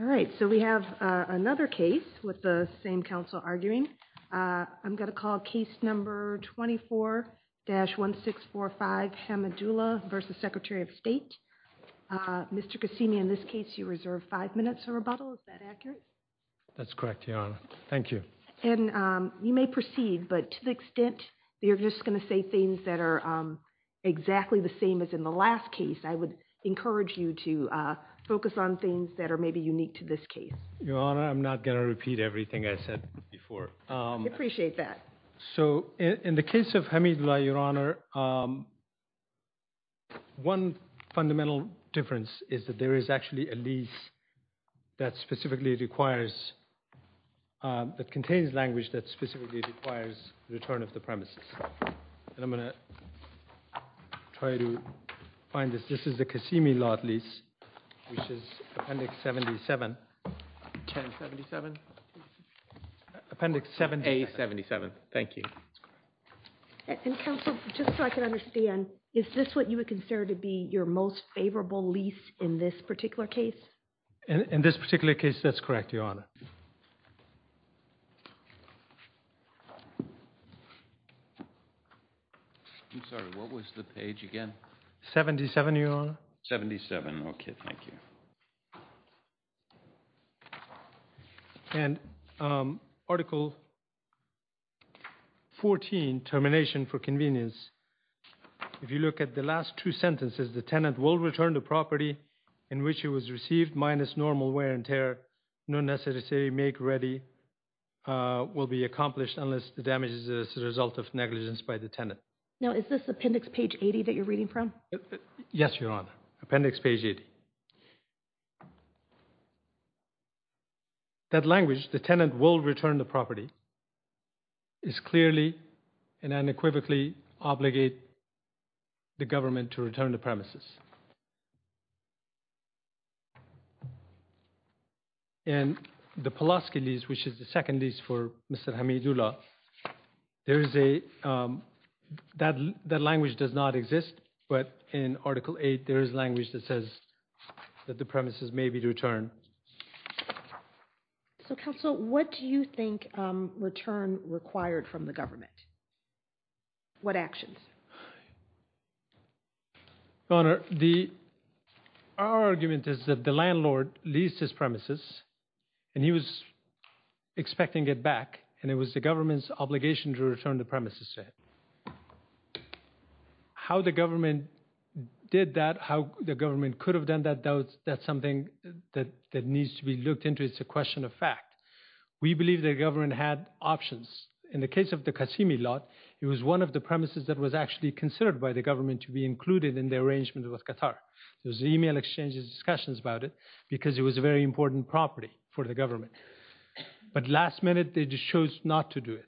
Mr. Kassimi, in this case, you reserve five minutes for rebuttal. Is that accurate? That's correct, Your Honor. Thank you. And you may proceed, but to the extent that you're just going to say things that are exactly the same as in the last case, I would encourage you to focus on things that are maybe unique to your case. Your Honor, I'm not going to repeat everything I said before. I appreciate that. So, in the case of Hamidullah, Your Honor, one fundamental difference is that there is actually a lease that specifically requires – that contains language that specifically requires return of the premises. And I'm going to try to find this. This is the Kassimi lot lease, which is Appendix 77. 1077? Appendix 77. A77. Thank you. And, Counsel, just so I can understand, is this what you would consider to be your most favorable lease in this particular case? In this particular case, that's correct, Your Honor. I'm sorry. What was the page again? 77, Your Honor. 77. Okay. Thank you. And Article 14, Termination for Convenience, if you look at the last two sentences, the tenant will return the property in which it was received minus normal wear and tear, no necessary make ready will be accomplished unless the damage is the result of negligence by the tenant. Now, is this Appendix page 80 that you're reading from? Yes, Your Honor. Appendix page 80. That language, the tenant will return the property, is clearly and unequivocally obligate the government to return the premises. In the Pulaski lease, which is the second lease for Mr. Hamidullah, there is a, that language does not exist, but in Article 8, there is language that says that the premises may be returned. So, Counsel, what do you think return required from the government? What actions? Your Honor, the, our argument is that the landlord leased his premises, and he was expecting it back, and it was the government's obligation to return the premises to him. How the government did that, how the government could have done that, that's something that needs to be looked into. It's a question of fact. We believe the government had options. In the case of the Qasimi lot, it was one of the premises that was actually considered by the government to be included in the arrangement with Qatar. There was email exchanges, discussions about it, because it was a very important property for the government. But last minute, they just chose not to do it.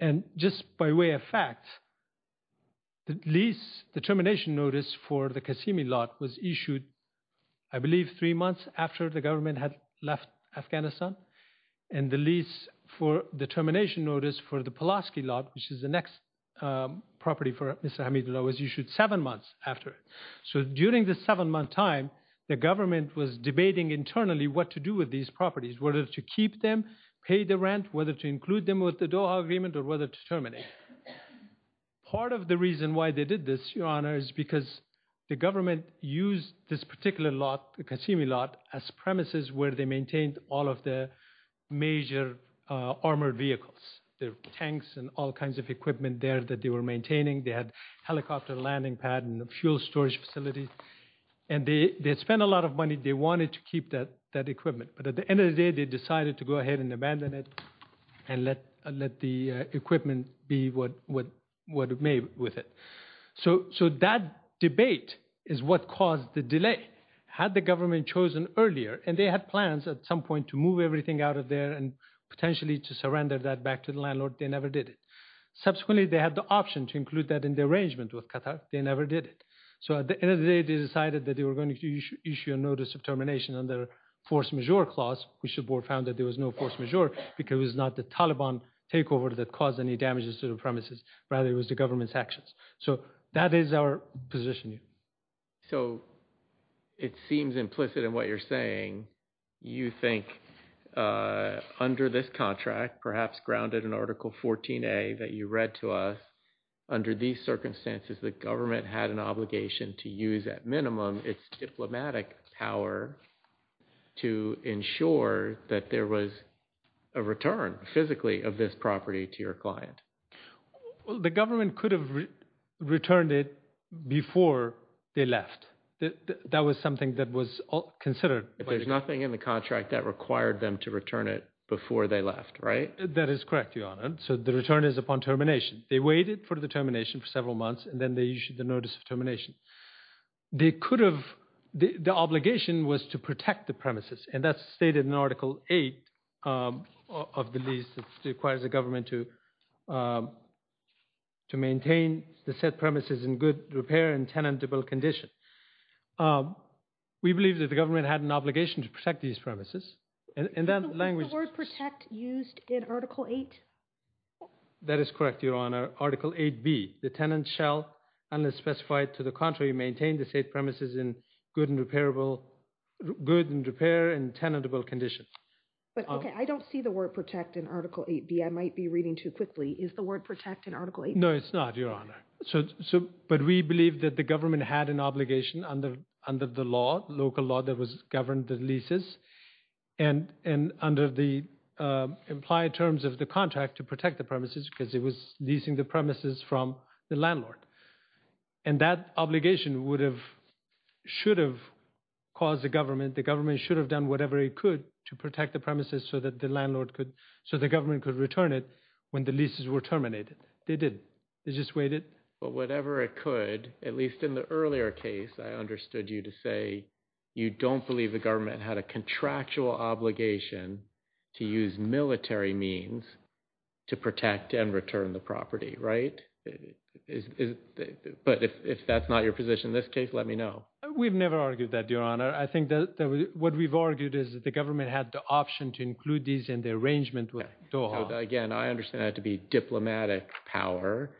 And just by way of fact, the lease, the termination notice for the Qasimi lot was issued, I believe, three months after the government had left Afghanistan. And the lease for the termination notice for the Pulaski lot, which is the next property for Mr. Hamidullah, was issued seven months after. So during the seven-month time, the government was debating internally what to do with these properties, whether to keep them, pay the rent, whether to include them with the Doha agreement, or whether to terminate. Part of the reason why they did this, Your Honor, is because the government used this particular lot, the Qasimi lot, as premises where they maintained all of the major armored vehicles. There were tanks and all kinds of equipment there that they were maintaining. They had a helicopter landing pad and a fuel storage facility. And they spent a lot of money. They wanted to keep that equipment. But at the end of the day, they decided to go ahead and abandon it and let the equipment be what it made with it. So that debate is what caused the delay. Had the government chosen earlier, and they had plans at some point to move everything out of there and potentially to surrender that back to the landlord, they never did it. Subsequently, they had the option to include that in the arrangement with Qatar. They never did it. So at the end of the day, they decided that they were going to issue a notice of termination under a force majeure clause, which the board found that there was no force majeure because it was not the Taliban takeover that caused any damages to the premises. Rather, it was the government's actions. So that is our positioning. So it seems implicit in what you're saying. You think under this contract, perhaps grounded in Article 14a that you read to us, under these circumstances, the government had an obligation to use at minimum its diplomatic power to ensure that there was a return physically of this property to your client. The government could have returned it before they left. That was something that was considered. If there's nothing in the contract that required them to return it before they left, right? That is correct, Your Honor. So the return is upon termination. They waited for the termination for several months, and then they issued the notice of termination. The obligation was to protect the premises, and that's stated in Article 8 of the lease. It requires the government to maintain the set premises in good repair and tenable condition. We believe that the government had an obligation to protect these premises. Is the word protect used in Article 8? That is correct, Your Honor. Article 8b, the tenant shall, unless specified to the contrary, maintain the state premises in good and repairable, good and repair and tenable condition. But, okay, I don't see the word protect in Article 8b. I might be reading too quickly. Is the word protect in Article 8b? No, it's not, Your Honor. But we believe that the government had an obligation under the law, local law that governed the leases, and under the implied terms of the contract to protect the premises because it was leasing the premises from the landlord. And that obligation would have, should have caused the government, the government should have done whatever it could to protect the premises so that the landlord could, so the government could return it when the leases were terminated. They didn't. They just waited. But whatever it could, at least in the earlier case, I understood you to say you don't believe the government had a contractual obligation to use military means to protect and return the property, right? But if that's not your position in this case, let me know. We've never argued that, Your Honor. I think that what we've argued is that the government had the option to include these in the arrangement with Doha. Again, I understand that to be diplomatic power.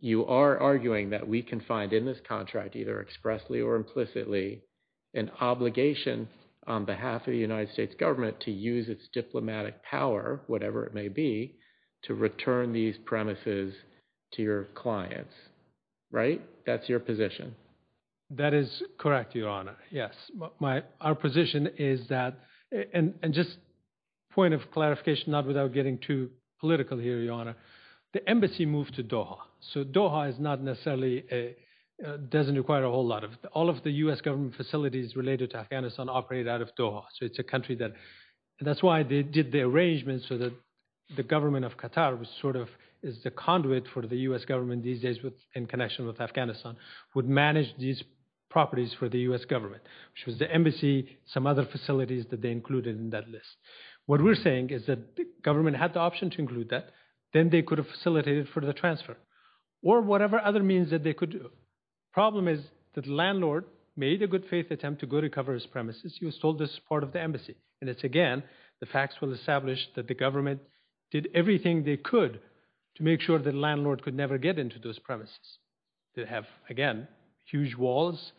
You are arguing that we can find in this contract, either expressly or implicitly, an obligation on behalf of the United States government to use its diplomatic power, whatever it may be, to return these premises to your clients, right? That's your position. That is correct, Your Honor. Yes. Our position is that – and just a point of clarification, not without getting too political here, Your Honor. The embassy moved to Doha, so Doha is not necessarily – doesn't require a whole lot of – all of the U.S. government facilities related to Afghanistan operate out of Doha, so it's a country that – that's why they did the arrangement so that the government of Qatar was sort of – is the conduit for the U.S. government these days in connection with Afghanistan would manage these properties for the U.S. government, which was the embassy, some other facilities that they included in that list. What we're saying is that the government had the option to include that, then they could have facilitated for the transfer, or whatever other means that they could do. The problem is that the landlord made a good faith attempt to go to cover his premises. He was told this was part of the embassy, and it's, again, the facts will establish that the government did everything they could to make sure the landlord could never get into those premises that have, again, huge walls,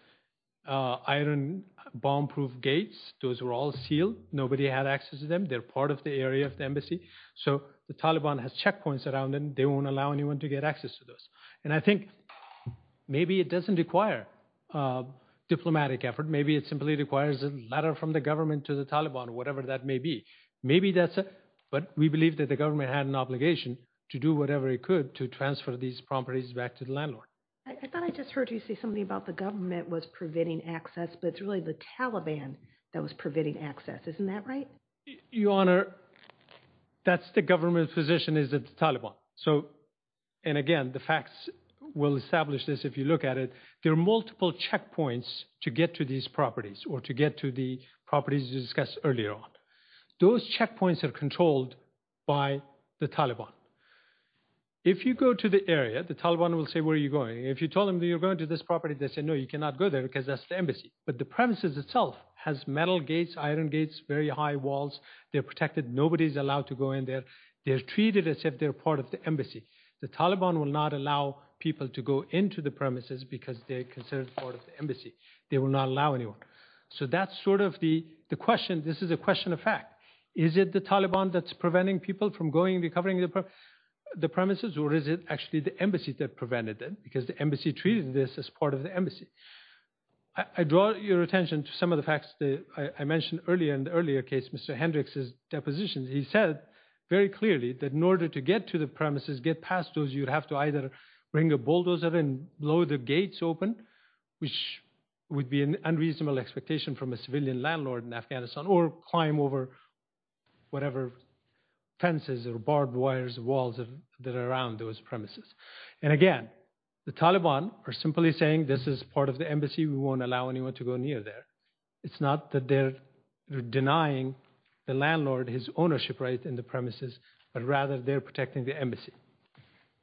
iron bomb-proof gates. Those were all sealed. Nobody had access to them. They're part of the area of the embassy, so the Taliban has checkpoints around them. They won't allow anyone to get access to those. And I think maybe it doesn't require diplomatic effort. Maybe it simply requires a letter from the government to the Taliban, whatever that may be. Maybe that's it, but we believe that the government had an obligation to do whatever it could to transfer these properties back to the landlord. I thought I just heard you say something about the government was preventing access, but it's really the Taliban that was preventing access. Isn't that right? Your Honor, that's the government's position, is that the Taliban. So, and again, the facts will establish this if you look at it. There are multiple checkpoints to get to these properties, or to get to the properties you discussed earlier on. Those checkpoints are controlled by the Taliban. If you go to the area, the Taliban will say, where are you going? If you tell them you're going to this property, they say, no, you cannot go there because that's the embassy. But the premises itself has metal gates, iron gates, very high walls. They're protected. Nobody's allowed to go in there. They're treated as if they're part of the embassy. The Taliban will not allow people to go into the premises because they're considered part of the embassy. They will not allow anyone. So that's sort of the question. This is a question of fact. Is it the Taliban that's preventing people from going and recovering the premises, or is it actually the embassy that prevented it because the embassy treated this as part of the embassy? I draw your attention to some of the facts that I mentioned earlier in the earlier case, Mr. Hendricks' depositions. He said very clearly that in order to get to the premises, get past those, you'd have to either bring a bulldozer and blow the gates open, which would be an unreasonable expectation from a civilian landlord in Afghanistan, or climb over whatever fences or barbed wires, walls that are around those premises. And again, the Taliban are simply saying this is part of the embassy. We won't allow anyone to go near there. It's not that they're denying the landlord his ownership right in the premises, but rather they're protecting the embassy.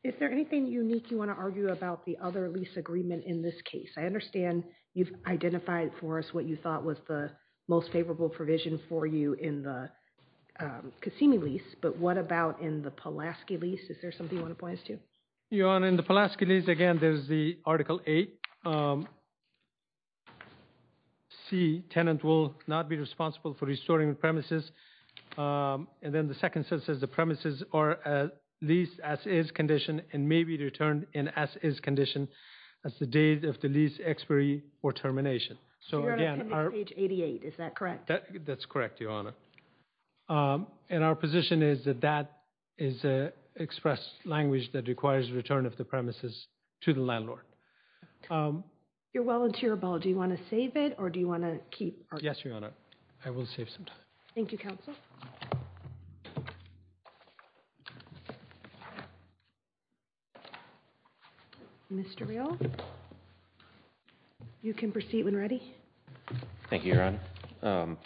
Is there anything unique you want to argue about the other lease agreement in this case? I understand you've identified for us what you thought was the most favorable provision for you in the Qasimi lease, but what about in the Pulaski lease? Is there something you want to point us to? Your Honor, in the Pulaski lease, again, there's the Article 8. C, tenant will not be responsible for restoring the premises. And then the second sentence says the premises are leased as is condition and may be returned as is condition as the date of the lease expiry or termination. You're on page 88, is that correct? That's correct, Your Honor. And our position is that that is an express language that requires return of the premises to the landlord. You're well into your ball. Do you want to save it or do you want to keep arguing? Yes, Your Honor. I will save some time. Thank you, Counsel. Mr. Real, you can proceed when ready. Thank you, Your Honor.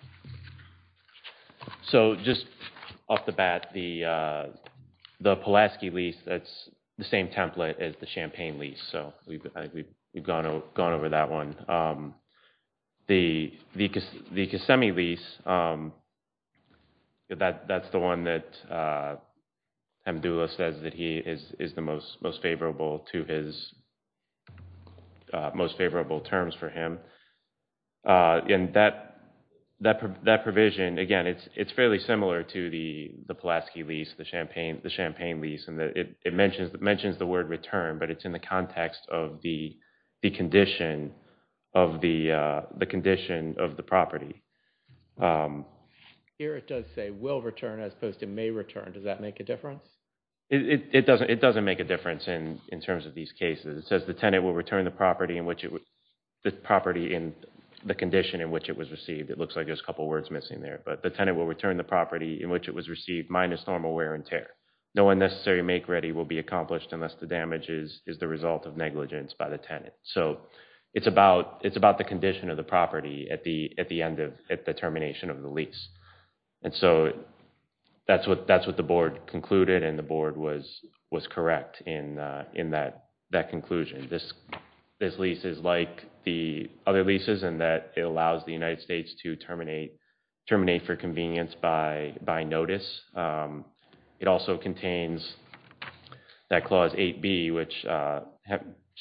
So just off the bat, the Pulaski lease, that's the same template as the Champaign lease, so we've gone over that one. The Kissimmee lease, that's the one that Amdula says is the most favorable terms for him. And that provision, again, it's fairly similar to the Pulaski lease, the Champaign lease. It mentions the word return, but it's in the context of the condition of the property. Here it does say will return as opposed to may return. Does that make a difference? It doesn't make a difference in terms of these cases. It says the tenant will return the property in the condition in which it was received. It looks like there's a couple words missing there. But the tenant will return the property in which it was received minus normal wear and tear. No unnecessary make ready will be accomplished unless the damage is the result of negligence by the tenant. So it's about the condition of the property at the termination of the lease. And so that's what the board concluded and the board was correct in that conclusion. This lease is like the other leases in that it allows the United States to terminate for convenience by notice. It also contains that Clause 8B, which Mr.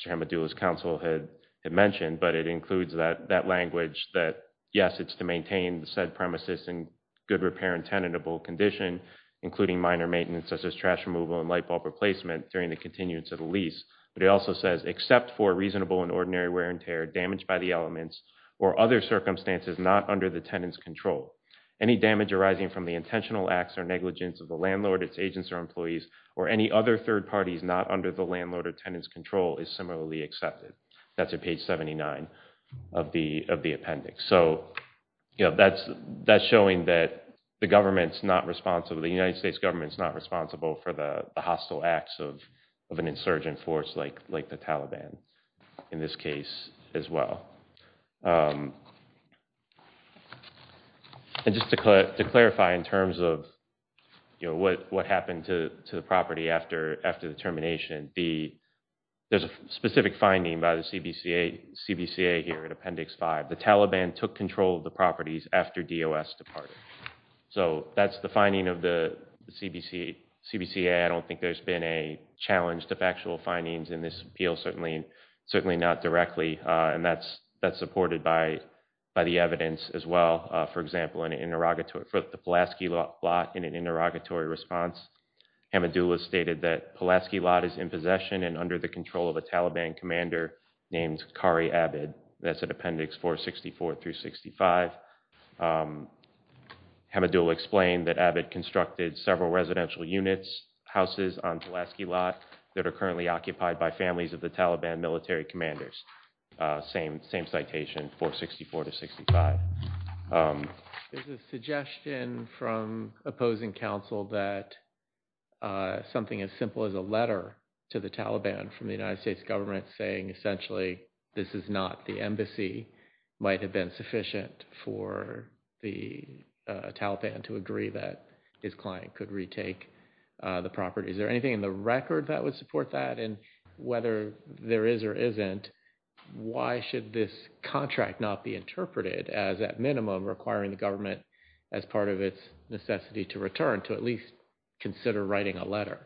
Amadula's counsel had mentioned, but it includes that language that, yes, it's to maintain said premises in good repair and tenable condition, including minor maintenance such as trash removal and light bulb replacement during the continuance of the lease. But it also says except for reasonable and ordinary wear and tear, damage by the elements or other circumstances not under the tenant's control, any damage arising from the intentional acts or negligence of the landlord, its agents or employees, or any other third parties not under the landlord or tenant's control is similarly accepted. That's at page 79 of the appendix. So that's showing that the government's not responsible, the United States government's not responsible for the hostile acts of an insurgent force like the Taliban in this case as well. And just to clarify in terms of what happened to the property after the termination, there's a specific finding by the CBCA here in Appendix 5. The Taliban took control of the properties after DOS departed. So that's the finding of the CBCA. I don't think there's been a challenge to factual findings in this appeal, certainly not directly, and that's supported by the evidence as well. For example, for the Pulaski lot in an interrogatory response, Hamidullah stated that Pulaski lot is in possession and under the control of a Taliban commander named Qari Abed. That's at Appendix 464 through 65. Hamidullah explained that Abed constructed several residential units, houses on Pulaski lot, that are currently occupied by families of the Taliban military commanders. Same citation, 464 to 65. There's a suggestion from opposing counsel that something as simple as a letter to the Taliban from the United States government saying, essentially, this is not the embassy, might have been sufficient for the Taliban to agree that his client could retake the property. Is there anything in the record that would support that? And whether there is or isn't, why should this contract not be interpreted as, at minimum, requiring the government as part of its necessity to return to at least consider writing a letter?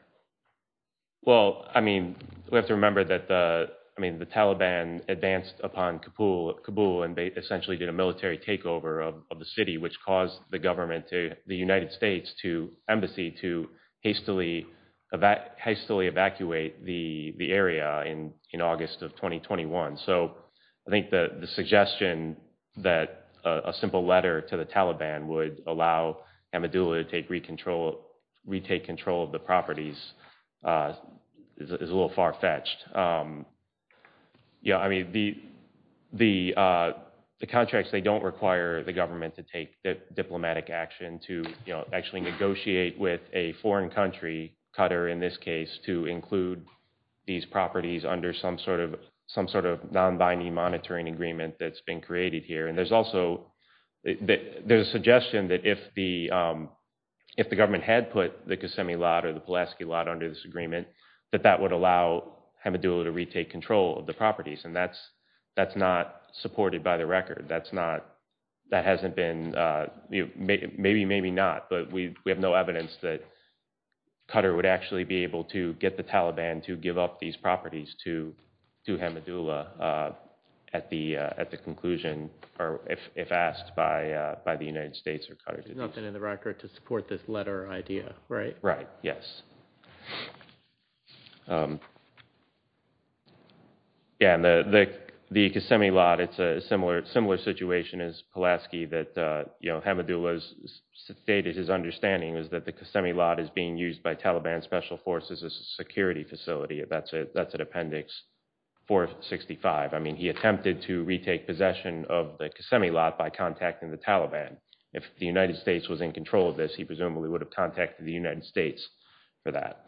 Well, I mean, we have to remember that the Taliban advanced upon Kabul and they essentially did a military takeover of the city, which caused the government to the United States to embassy to hastily evacuate the area in August of 2021. So I think the suggestion that a simple letter to the Taliban would allow Hamidullah to retake control of the properties is a little far fetched. Yeah, I mean, the contracts, they don't require the government to take diplomatic action to actually negotiate with a foreign country, Qatar in this case, to include these properties under some sort of non-binding monitoring agreement that's been created here. There's a suggestion that if the government had put the Qasemi lot or the Pulaski lot under this agreement, that that would allow Hamidullah to retake control of the properties, and that's not supported by the record. That hasn't been, maybe, maybe not, but we have no evidence that Qatar would actually be able to get the Taliban to give up these properties to Hamidullah at the conclusion, or if asked by the United States or Qatar. It's not been in the record to support this letter idea, right? Right, yes. Yeah, and the Qasemi lot, it's a similar situation as Pulaski, that Hamidullah's stated his understanding is that the Qasemi lot is being used by Taliban special forces as a security facility. That's at Appendix 465. I mean, he attempted to retake possession of the Qasemi lot by contacting the Taliban. If the United States was in control of this, he presumably would have contacted the United States for that.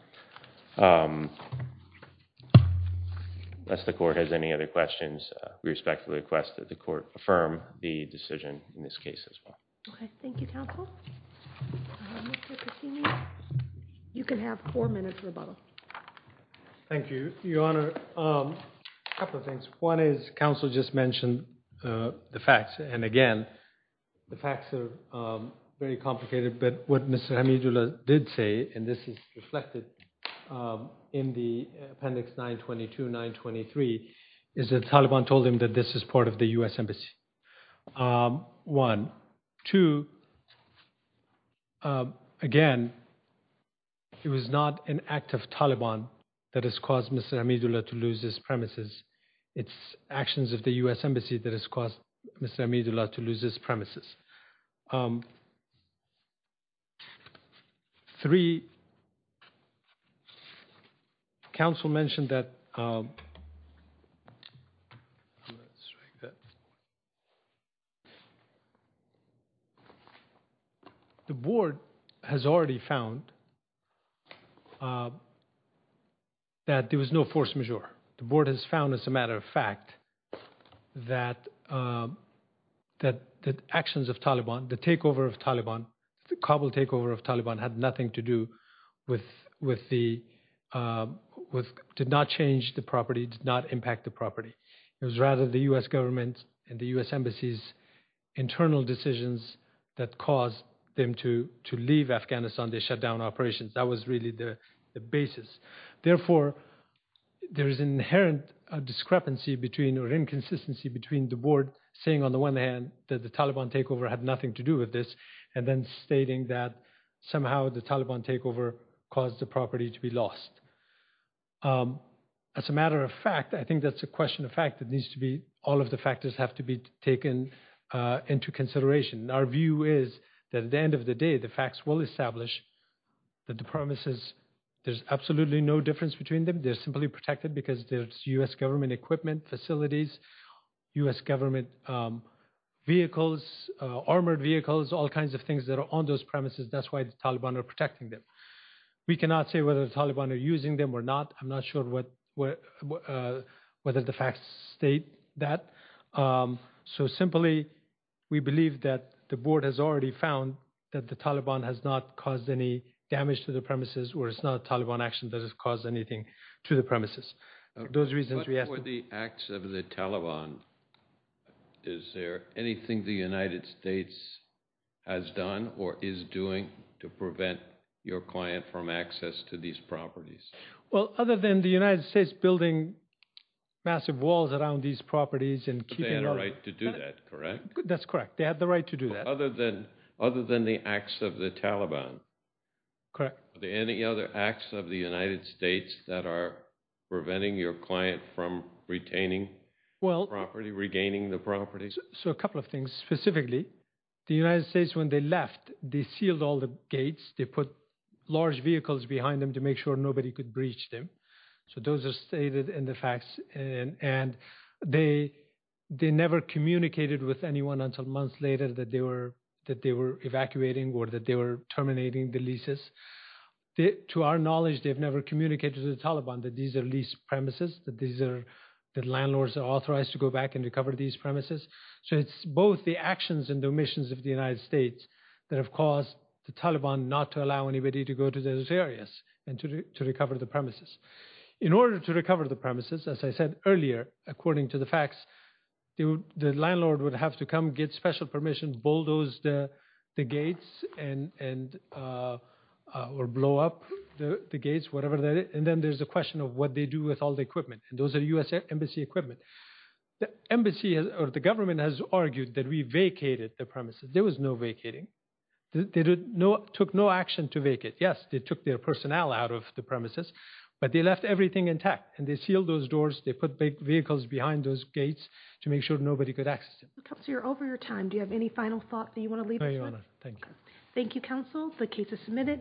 Unless the court has any other questions, we respectfully request that the court affirm the decision in this case as well. Okay, thank you, counsel. You can have four minutes rebuttal. Thank you, Your Honor. A couple of things. One is, counsel just mentioned the facts, and again, the facts are very complicated, but what Mr. Hamidullah did say, and this is reflected in the Appendix 922, 923, is that the Taliban told him that this is part of the U.S. Embassy. One. Two, again, it was not an act of Taliban that has caused Mr. Hamidullah to lose his premises. It's actions of the U.S. Embassy that has caused Mr. Hamidullah to lose his premises. Three, counsel mentioned that the board has already found that there was no force majeure. The board has found, as a matter of fact, that the actions of Taliban, the takeover of Taliban, the Kabul takeover of Taliban, had nothing to do with, did not change the property, did not impact the property. It was rather the U.S. government and the U.S. Embassy's internal decisions that caused them to leave Afghanistan. They shut down operations. That was really the basis. Therefore, there is an inherent discrepancy or inconsistency between the board saying, on the one hand, that the Taliban takeover had nothing to do with this, and then stating that somehow the Taliban takeover caused the property to be lost. As a matter of fact, I think that's a question of fact. It needs to be, all of the factors have to be taken into consideration. Our view is that at the end of the day, the facts will establish that the premises, there's absolutely no difference between them. They're simply protected because there's U.S. government equipment, facilities, U.S. government vehicles, armored vehicles, all kinds of things that are on those premises. That's why the Taliban are protecting them. We cannot say whether the Taliban are using them or not. I'm not sure whether the facts state that. So simply, we believe that the board has already found that the Taliban has not caused any damage to the premises, or it's not a Taliban action that has caused anything to the premises. Those reasons we have to— What were the acts of the Taliban? Is there anything the United States has done or is doing to prevent your client from access to these properties? Well, other than the United States building massive walls around these properties and keeping— But they had a right to do that, correct? That's correct. They had the right to do that. Other than the acts of the Taliban. Correct. Are there any other acts of the United States that are preventing your client from retaining the property, regaining the property? So a couple of things. Specifically, the United States, when they left, they sealed all the gates. They put large vehicles behind them to make sure nobody could breach them. So those are stated in the facts. And they never communicated with anyone until months later that they were evacuating or that they were terminating the leases. To our knowledge, they have never communicated to the Taliban that these are lease premises, that landlords are authorized to go back and recover these premises. So it's both the actions and the omissions of the United States that have caused the Taliban not to allow anybody to go to those areas and to recover the premises. In order to recover the premises, as I said earlier, according to the facts, the landlord would have to come, get special permission, bulldoze the gates or blow up the gates, whatever that is. And then there's a question of what they do with all the equipment. And those are U.S. Embassy equipment. The government has argued that we vacated the premises. There was no vacating. They took no action to vacate. Yes, they took their personnel out of the premises, but they left everything intact, and they sealed those doors. They put vehicles behind those gates to make sure nobody could access them. Counselor, you're over your time. Do you have any final thoughts that you want to leave us with? No, Your Honor. Thank you. Thank you, Counsel. The case is submitted.